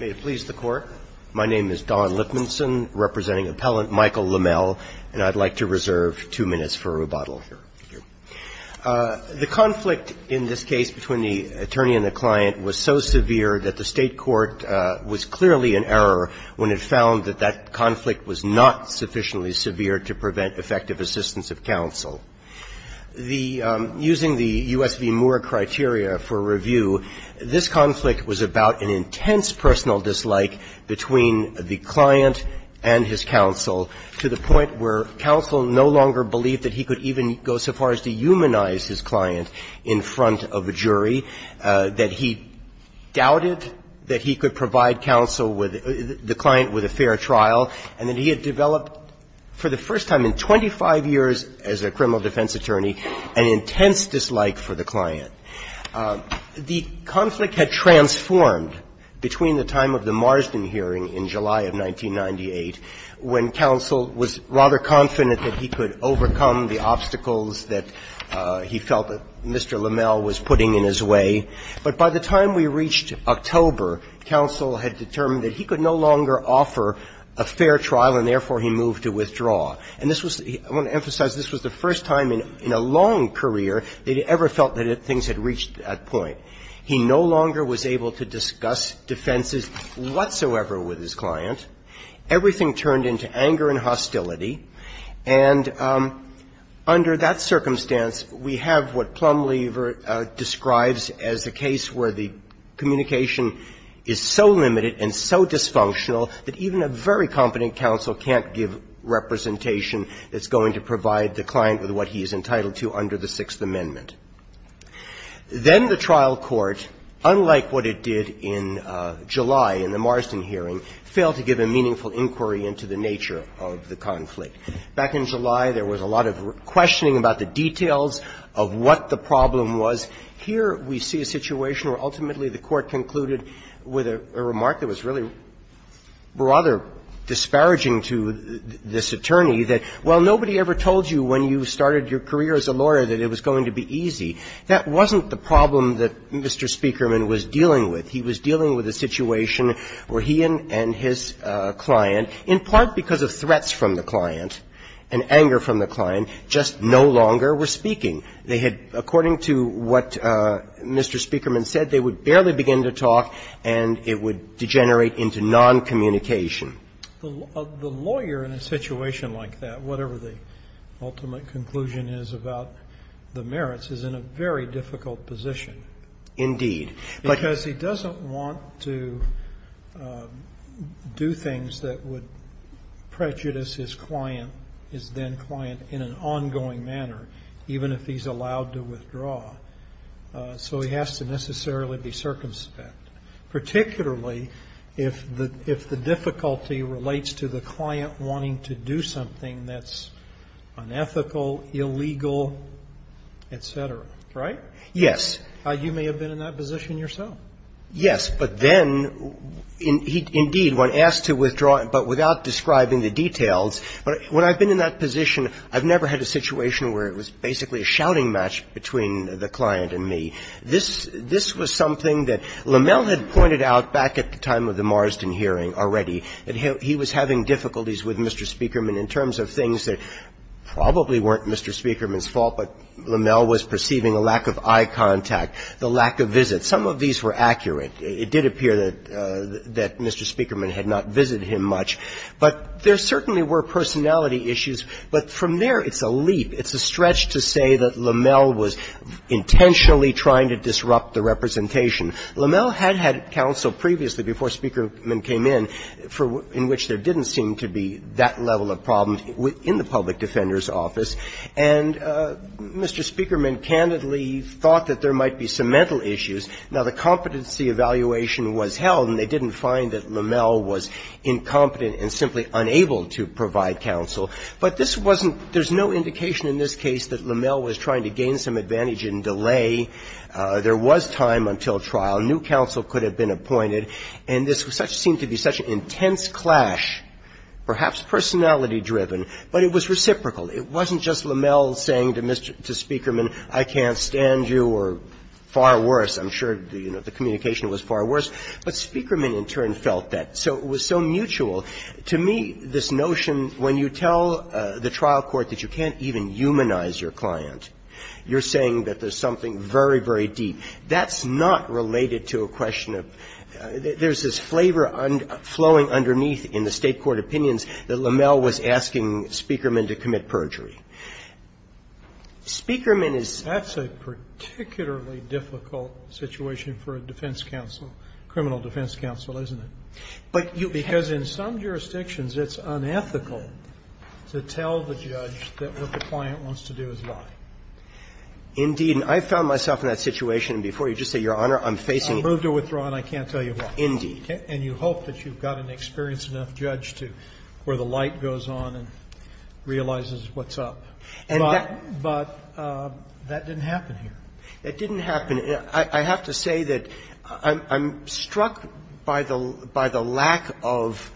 May it please the Court. My name is Don Lipmanson, representing Appellant Michael Lamelle, and I'd like to reserve two minutes for rebuttal. The conflict in this case between the attorney and the client was so severe that the state court was clearly in error when it found that that conflict was not sufficiently severe to prevent effective assistance of counsel. The using the U.S. v. Moore criteria for review, this conflict was about an intense personal dislike between the client and his counsel to the point where counsel no longer believed that he could even go so far as to humanize his client in front of a jury, that he doubted that he could provide counsel with the client with a fair trial, and that he had developed for the first time in 25 years as a criminal defense attorney an intense dislike for the client. The conflict had transformed between the time of the Marsden hearing in July of 1998, when counsel was rather confident that he could overcome the obstacles that he felt that Mr. Lamelle was putting in his way. But by the time we reached October, counsel had determined that he could no longer offer a fair trial, and therefore he moved to withdraw. And this was the – I want to emphasize this was the first time in a long career they'd ever felt that things had reached that point. He no longer was able to discuss defenses whatsoever with his client. Everything turned into anger and hostility. And under that circumstance, we have what Plumlee describes as a case where the communication is so limited and so dysfunctional that even a very competent counsel can't give representation that's going to provide the client with what he's entitled to under the Sixth Amendment. Then the trial court, unlike what it did in July in the Marsden hearing, failed to give a meaningful inquiry into the nature of the conflict. Back in July, there was a lot of questioning about the details of what the problem was. Here we see a situation where ultimately the Court concluded with a remark that was really rather disparaging to this attorney, that while nobody ever told you when you started your career as a lawyer that it was going to be easy, that wasn't the problem that Mr. Speakerman was dealing with. He was dealing with a situation where he and his client, in part because of threats from the client and anger from the client, just no longer were speaking. They had, according to what Mr. Speakerman said, they would barely begin to talk and it would degenerate into noncommunication. The lawyer in a situation like that, whatever the ultimate conclusion is about the merits, is in a very difficult position. Indeed. Because he doesn't want to do things that would prejudice his client, his then-client, in an ongoing manner, even if he's allowed to withdraw. So he has to necessarily be circumspect, particularly if the difficulty relates to the client wanting to do something that's unethical, illegal, et cetera. Right? Yes. You may have been in that position yourself. Yes. But then, indeed, when asked to withdraw, but without describing the details, when I've been in that position, I've never had a situation where it was basically a shouting match between the client and me. This was something that Lommel had pointed out back at the time of the Marsden hearing already, that he was having difficulties with Mr. Speakerman in terms of things that probably weren't Mr. Speakerman's fault, but Lommel was perceiving a lack of eye contact, the lack of visit. Some of these were accurate. It did appear that Mr. Speakerman had not visited him much. But there certainly were personality issues. But from there, it's a leap. It's a stretch to say that Lommel was intentionally trying to disrupt the representation. Lommel had had counsel previously before Speakerman came in, in which there didn't seem to be that level of problem in the public defender's office. And Mr. Speakerman candidly thought that there might be some mental issues. Now, the competency evaluation was held, and they didn't find that Lommel was incompetent and simply unable to provide counsel. But this wasn't – there's no indication in this case that Lommel was trying to gain some advantage in delay. There was time until trial. New counsel could have been appointed. And this seemed to be such an intense clash, perhaps personality-driven, but it was reciprocal. It wasn't just Lommel saying to Speakerman, I can't stand you, or far worse, I'm sure, you know, the communication was far worse. But Speakerman, in turn, felt that. So it was so mutual. To me, this notion, when you tell the trial court that you can't even humanize your client, you're saying that there's something very, very deep. That's not related to a question of – there's this flavor flowing underneath in the State court opinions that Lommel was asking Speakerman to commit perjury. Speakerman is – Roberts, it's a particularly difficult situation for a defense counsel, criminal defense counsel, isn't it? Because in some jurisdictions, it's unethical to tell the judge that what the client wants to do is lie. Indeed. And I found myself in that situation, and before you just say, Your Honor, I'm facing – I've moved to withdraw, and I can't tell you why. Indeed. And you hope that you've got an experienced enough judge to – where the light goes on and realizes what's up. But that didn't happen here. That didn't happen – I have to say that I'm struck by the lack of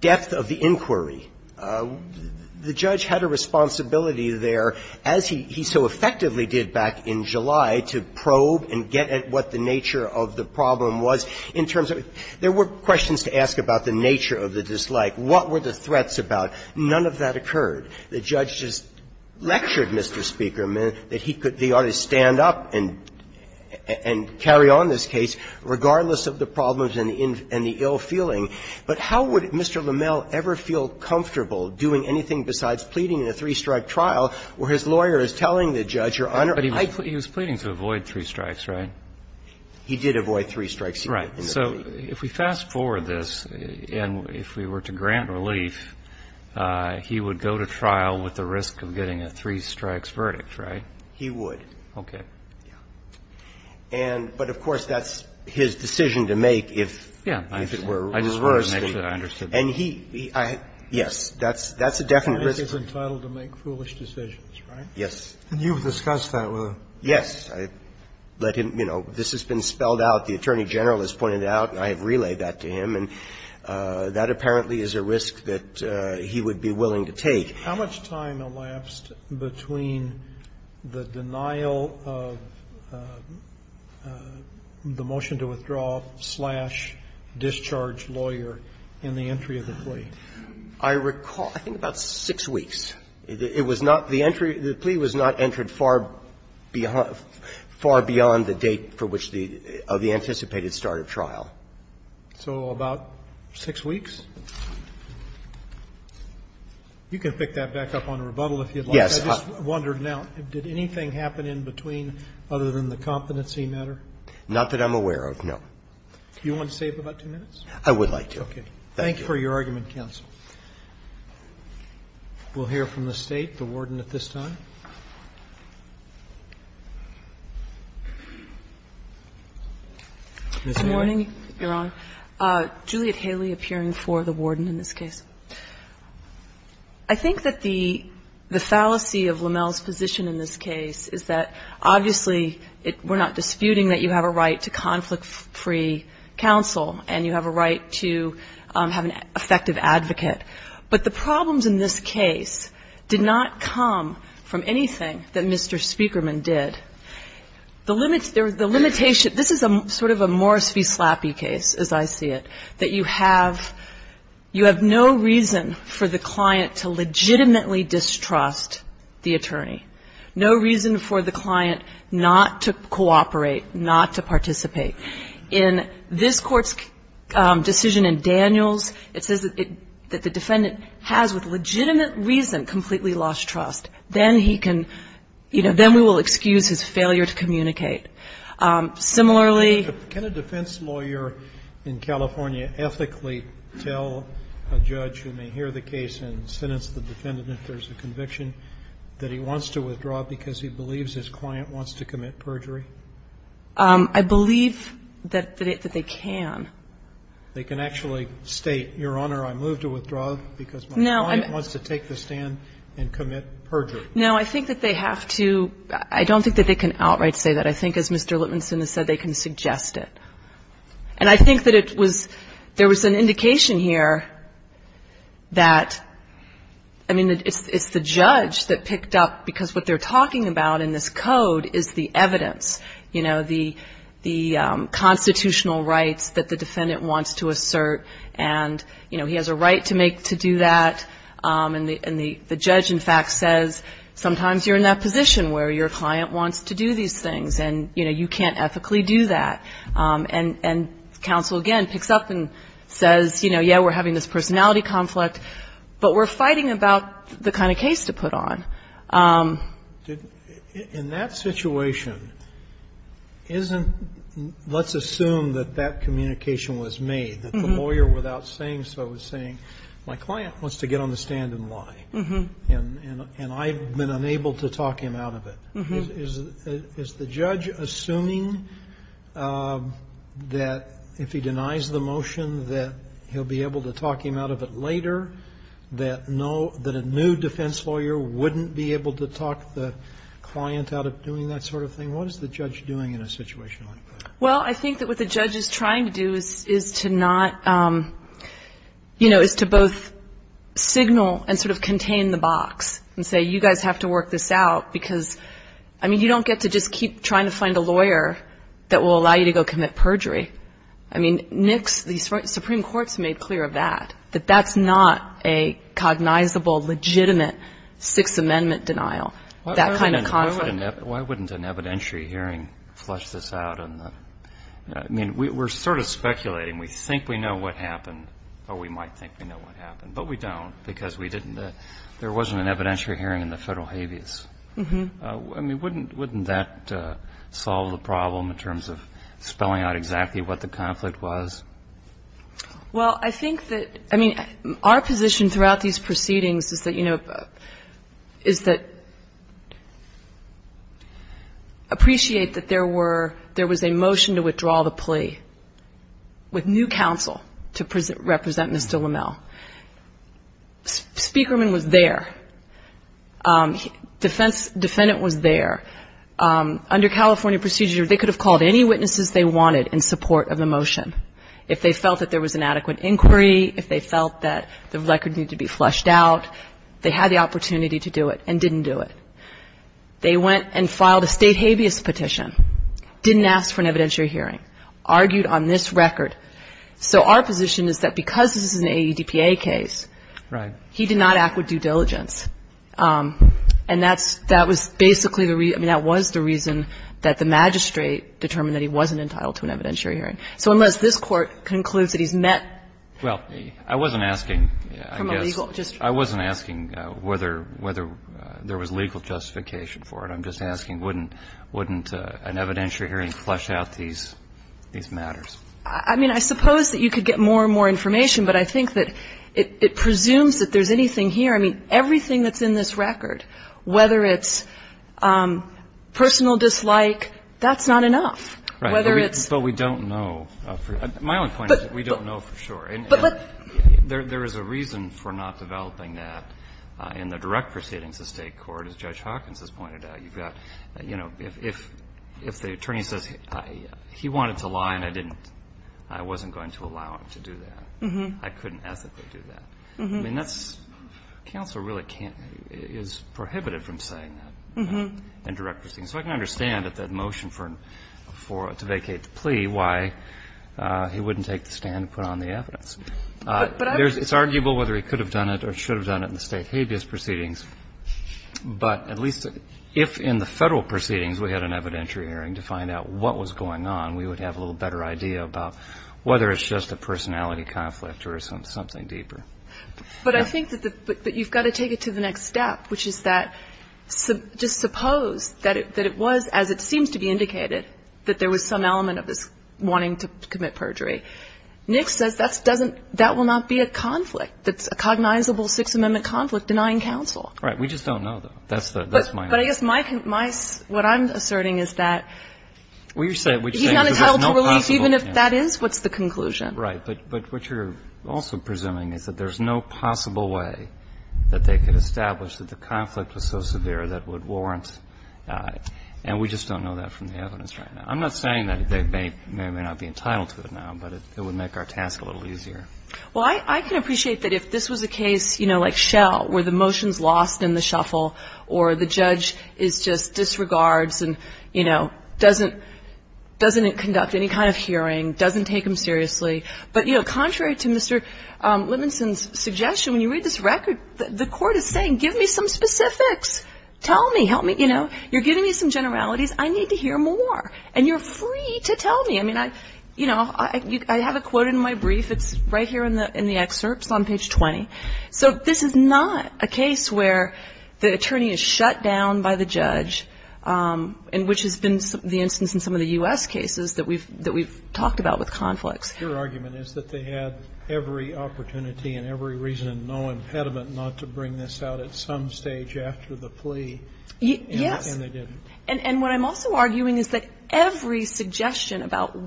depth of the inquiry. The judge had a responsibility there, as he so effectively did back in July, to probe and get at what the nature of the problem was in terms of – there were questions to ask about the nature of the dislike, what were the threats about. None of that occurred. The judge just lectured, Mr. Speaker, that he could – he ought to stand up and carry on this case, regardless of the problems and the ill feeling. But how would Mr. LeMell ever feel comfortable doing anything besides pleading in a three-strike trial where his lawyer is telling the judge, Your Honor, I – But he was pleading to avoid three strikes, right? He did avoid three strikes. Right. So if we fast-forward this, and if we were to grant relief, he would go to trial with the risk of getting a three-strikes verdict, right? He would. Okay. Yeah. And – but, of course, that's his decision to make if it were reversed. Yeah. I just wanted to make sure I understood that. And he – yes, that's a definite risk. He's entitled to make foolish decisions, right? Yes. And you've discussed that with him? Yes. I let him – you know, this has been spelled out. The Attorney General has pointed it out. I have relayed that to him. And that apparently is a risk that he would be willing to take. How much time elapsed between the denial of the motion to withdraw slash discharge lawyer and the entry of the plea? I recall I think about six weeks. It was not – the entry – the plea was not entered far beyond the date for which the – of the anticipated start of trial. So about six weeks? You can pick that back up on a rebuttal if you'd like. Yes. I just wondered now, did anything happen in between other than the competency matter? Not that I'm aware of, no. Do you want to save about two minutes? I would like to. Okay. Thank you. Thank you for your argument, counsel. We'll hear from the State, the Warden at this time. Ms. Moy. Good morning, Your Honor. Juliet Haley appearing for the Warden in this case. I think that the fallacy of LaMelle's position in this case is that obviously we're not disputing that you have a right to conflict-free counsel and you have a right to have an effective advocate. But the problems in this case did not come from anything that Mr. Speakerman did. The limitation – this is sort of a Morris v. Slappy case, as I see it, that you have – you have no reason for the client to legitimately distrust the attorney. No reason for the client not to cooperate, not to participate. In this Court's decision in Daniels, it says that the defendant has with legitimate reason completely lost trust. Then he can – you know, then we will excuse his failure to communicate. Similarly – Can a defense lawyer in California ethically tell a judge who may hear the case and sentence the defendant if there's a conviction that he wants to withdraw because he believes his client wants to commit perjury? I believe that they can. They can actually state, Your Honor, I move to withdraw because my client wants to take the stand and commit perjury. No, I think that they have to – I don't think that they can outright say that. I think, as Mr. Lipmanson has said, they can suggest it. And I think that it was – there was an indication here that – I mean, it's the judge that picked up because what they're talking about in this code is the evidence, you know, the constitutional rights that the defendant wants to assert and, you know, he has a right to make – to do that. And the judge, in fact, says sometimes you're in that position where your client wants to do these things and, you know, you can't ethically do that. And counsel, again, picks up and says, you know, yeah, we're having this personality conflict, but we're fighting about the kind of case to put on. In that situation, isn't – let's assume that that communication was made, that the client wants to get on the stand and lie, and I've been unable to talk him out of it. Is the judge assuming that if he denies the motion that he'll be able to talk him out of it later, that a new defense lawyer wouldn't be able to talk the client out of doing that sort of thing? What is the judge doing in a situation like that? Well, I think that what the judge is trying to do is to not – you know, is to both signal and sort of contain the box and say, you guys have to work this out because, I mean, you don't get to just keep trying to find a lawyer that will allow you to go commit perjury. I mean, Nick's – the Supreme Court's made clear of that, that that's not a cognizable, legitimate Sixth Amendment denial. That kind of – Why wouldn't an evidentiary hearing flesh this out? I mean, we're sort of speculating. We think we know what happened, or we might think we know what happened, but we don't because we didn't – there wasn't an evidentiary hearing in the federal habeas. I mean, wouldn't that solve the problem in terms of spelling out exactly what the conflict was? Well, I think that – I mean, our position throughout these proceedings is that, you know, is that – appreciate that there were – there was a motion to withdraw the plea with new counsel to represent Ms. Dillamel. Speakerman was there. Defendant was there. Under California procedure, they could have called any witnesses they wanted in support of the motion. If they felt that there was an adequate inquiry, if they felt that the record needed to be fleshed out, they had the opportunity to do it and didn't do it. They went and filed a State habeas petition, didn't ask for an evidentiary hearing, argued on this record. So our position is that because this is an AEDPA case, he did not act with due diligence. And that's – that was basically the – I mean, that was the reason that the magistrate determined that he wasn't entitled to an evidentiary hearing. So unless this Court concludes that he's met – Well, I wasn't asking – From a legal – just – I wasn't asking whether there was legal justification for it. I'm just asking, wouldn't an evidentiary hearing flesh out these matters? I mean, I suppose that you could get more and more information, but I think that it presumes that there's anything here. I mean, everything that's in this record, whether it's personal dislike, that's not enough. Right. Whether it's – But we don't know. My only point is that we don't know for sure. But – There is a reason for not developing that in the direct proceedings of State court, as Judge Hawkins has pointed out. You've got – you know, if the attorney says he wanted to lie and I didn't – I wasn't going to allow him to do that. I couldn't ask that they do that. I mean, that's – counsel really can't – is prohibited from saying that in direct proceedings. So I can understand that that motion for – to vacate the plea, why he wouldn't take the stand and put on the evidence. But I – It's arguable whether he could have done it or should have done it in the State habeas proceedings. But at least if in the Federal proceedings we had an evidentiary hearing to find out what was going on, we would have a little better idea about whether it's just a personality conflict or something deeper. But I think that you've got to take it to the next step, which is that – just suppose that it was, as it seems to be indicated, that there was some element of this wanting to commit perjury. Nix says that's – doesn't – that will not be a conflict that's a cognizable Sixth Amendment conflict denying counsel. Right. We just don't know, though. That's the – that's my argument. But I guess my – what I'm asserting is that he's not entitled to release even if that is what's the conclusion. Right. But what you're also presuming is that there's no possible way that they could establish that the conflict was so severe that would warrant – and we just don't know that from the evidence right now. I'm not saying that they may not be entitled to it now, but it would make our task a little easier. Well, I can appreciate that if this was a case, you know, like Shell, where the motion is lost in the shuffle or the judge is just – disregards and, you know, doesn't – doesn't conduct any kind of hearing, doesn't take him seriously. But, you know, contrary to Mr. Lemonson's suggestion, when you read this record, the court is saying, give me some specifics. Tell me. Help me. You know. You're giving me some generalities. I need to hear more. And you're free to tell me. I mean, I – you know, I have it quoted in my brief. It's right here in the excerpts on page 20. So this is not a case where the attorney is shut down by the judge, and which has been the instance in some of the U.S. cases that we've talked about with conflicts. Your argument is that they had every opportunity and every reason and no impediment not to bring this out at some stage after the plea. Yes. And they didn't. And what I'm also arguing is that every suggestion about,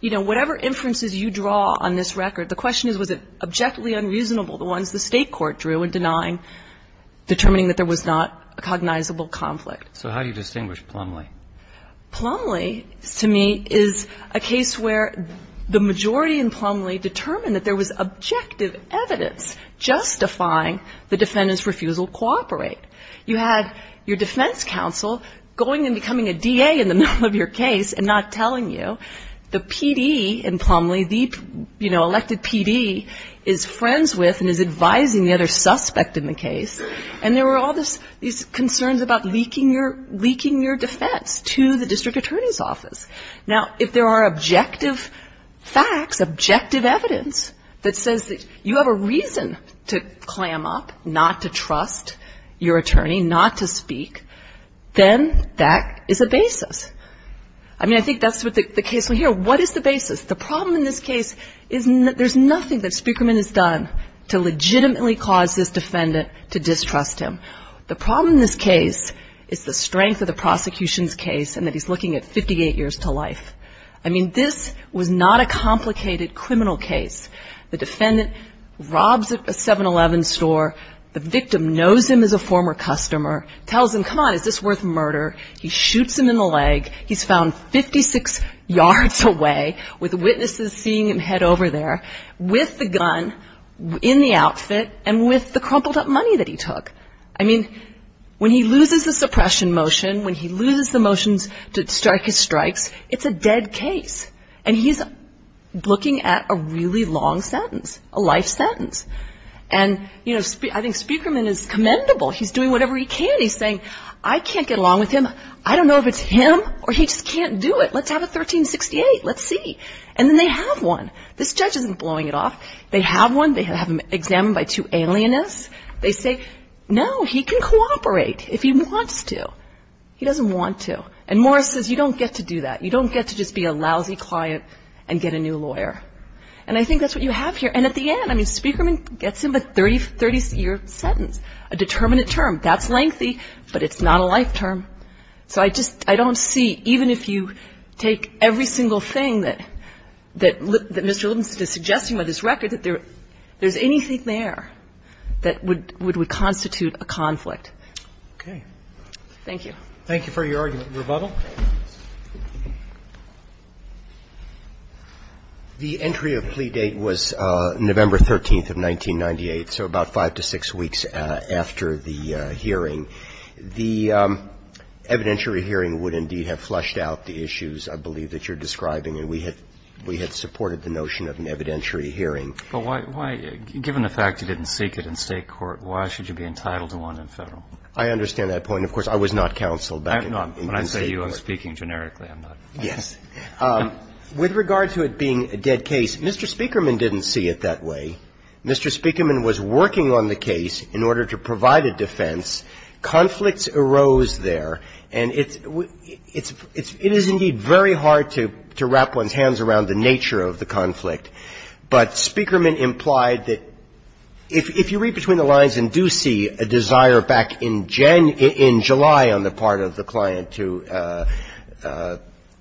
you know, whatever inferences you draw on this record, the question is, was it objectively unreasonable the ones the state court drew in denying – determining that there was not a cognizable conflict. So how do you distinguish Plumlee? Plumlee, to me, is a case where the majority in Plumlee determined that there was objective evidence justifying the defendant's refusal to cooperate. You had your defense counsel going and becoming a DA in the middle of your case and not telling you. The PD in Plumlee, the, you know, elected PD, is friends with and is advising the other suspect in the case. And there were all these concerns about leaking your defense to the district attorney's office. Now, if there are objective facts, objective evidence that says that you have a reason to clam up, not to trust your attorney, not to speak, then that is a basis. I mean, I think that's the case here. What is the basis? The problem in this case is there's nothing that Speakerman has done to legitimately cause this defendant to distrust him. The problem in this case is the strength of the prosecution's case and that he's looking at 58 years to life. I mean, this was not a complicated criminal case. The defendant robs a 7-Eleven store. The victim knows him as a former customer, tells him, come on, is this worth murder? He shoots him in the leg. He's found 56 yards away with witnesses seeing him head over there with the gun in the outfit and with the crumpled up money that he took. I mean, when he loses the suppression motion, when he loses the motions to strike his strikes, it's a dead case. And he's looking at a really long sentence, a life sentence. And, you know, I think Speakerman is commendable. He's doing whatever he can. He's saying, I can't get along with him. I don't know if it's him or he just can't do it. Let's have a 1368. Let's see. And then they have one. This judge isn't blowing it off. They have one. They have him examined by two alienists. They say, no, he can cooperate if he wants to. He doesn't want to. And Morris says, you don't get to do that. You don't get to just be a lousy client and get a new lawyer. And I think that's what you have here. And at the end, I mean, Speakerman gets him a 30-year sentence, a determinate term. That's lengthy, but it's not a life term. So I just, I don't see, even if you take every single thing that Mr. Williams is suggesting with this record, that there's anything there that would constitute a conflict. Roberts. Okay. Thank you. Thank you for your argument. Rebuttal. The entry of plea date was November 13th of 1998, so about five to six weeks after the hearing. The evidentiary hearing would indeed have flushed out the issues, I believe, that you're describing. And we had supported the notion of an evidentiary hearing. But why, given the fact you didn't seek it in State court, why should you be entitled to one in Federal? I understand that point. Of course, I was not counseled back in State court. When I say you, I'm speaking generically. I'm not. Yes. With regard to it being a dead case, Mr. Speakerman didn't see it that way. Mr. Speakerman was working on the case in order to provide a defense. Conflicts arose there. And it's indeed very hard to wrap one's hands around the nature of the conflict. But Speakerman implied that if you read between the lines and do see a desire back in July on the part of the client to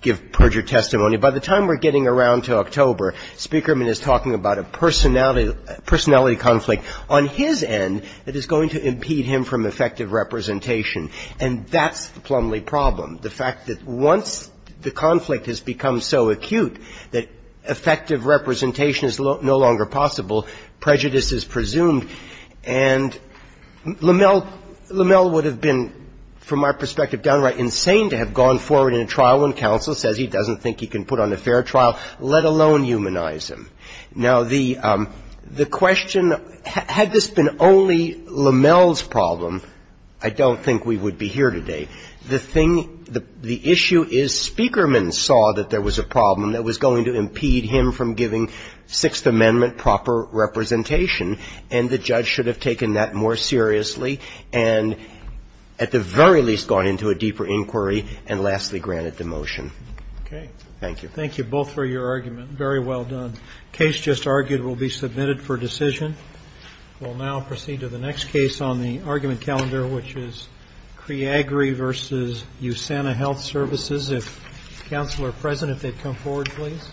give perjured testimony, by the time we're getting around to October, Speakerman is talking about a personality conflict on his end that is going to impede him from effective representation. And that's the plumbly problem. The fact that once the conflict has become so acute that effective representation is no longer possible, prejudice is presumed. And Lamel would have been, from my perspective, downright insane to have gone forward in a trial when counsel says he doesn't think he can put on a fair trial, let alone humanize him. Now, the question, had this been only Lamel's problem, I don't think we would be here today. The thing, the issue is Speakerman saw that there was a problem that was going to impede him from giving Sixth Amendment proper representation. And the judge should have taken that more seriously and at the very least gone into a deeper inquiry and lastly granted the motion. Thank you. Thank you both for your argument. Very well done. The case just argued will be submitted for decision. We'll now proceed to the next case on the argument calendar, which is CREAGRI versus USANA Health Services. If counsel are present, if they'd come forward, please.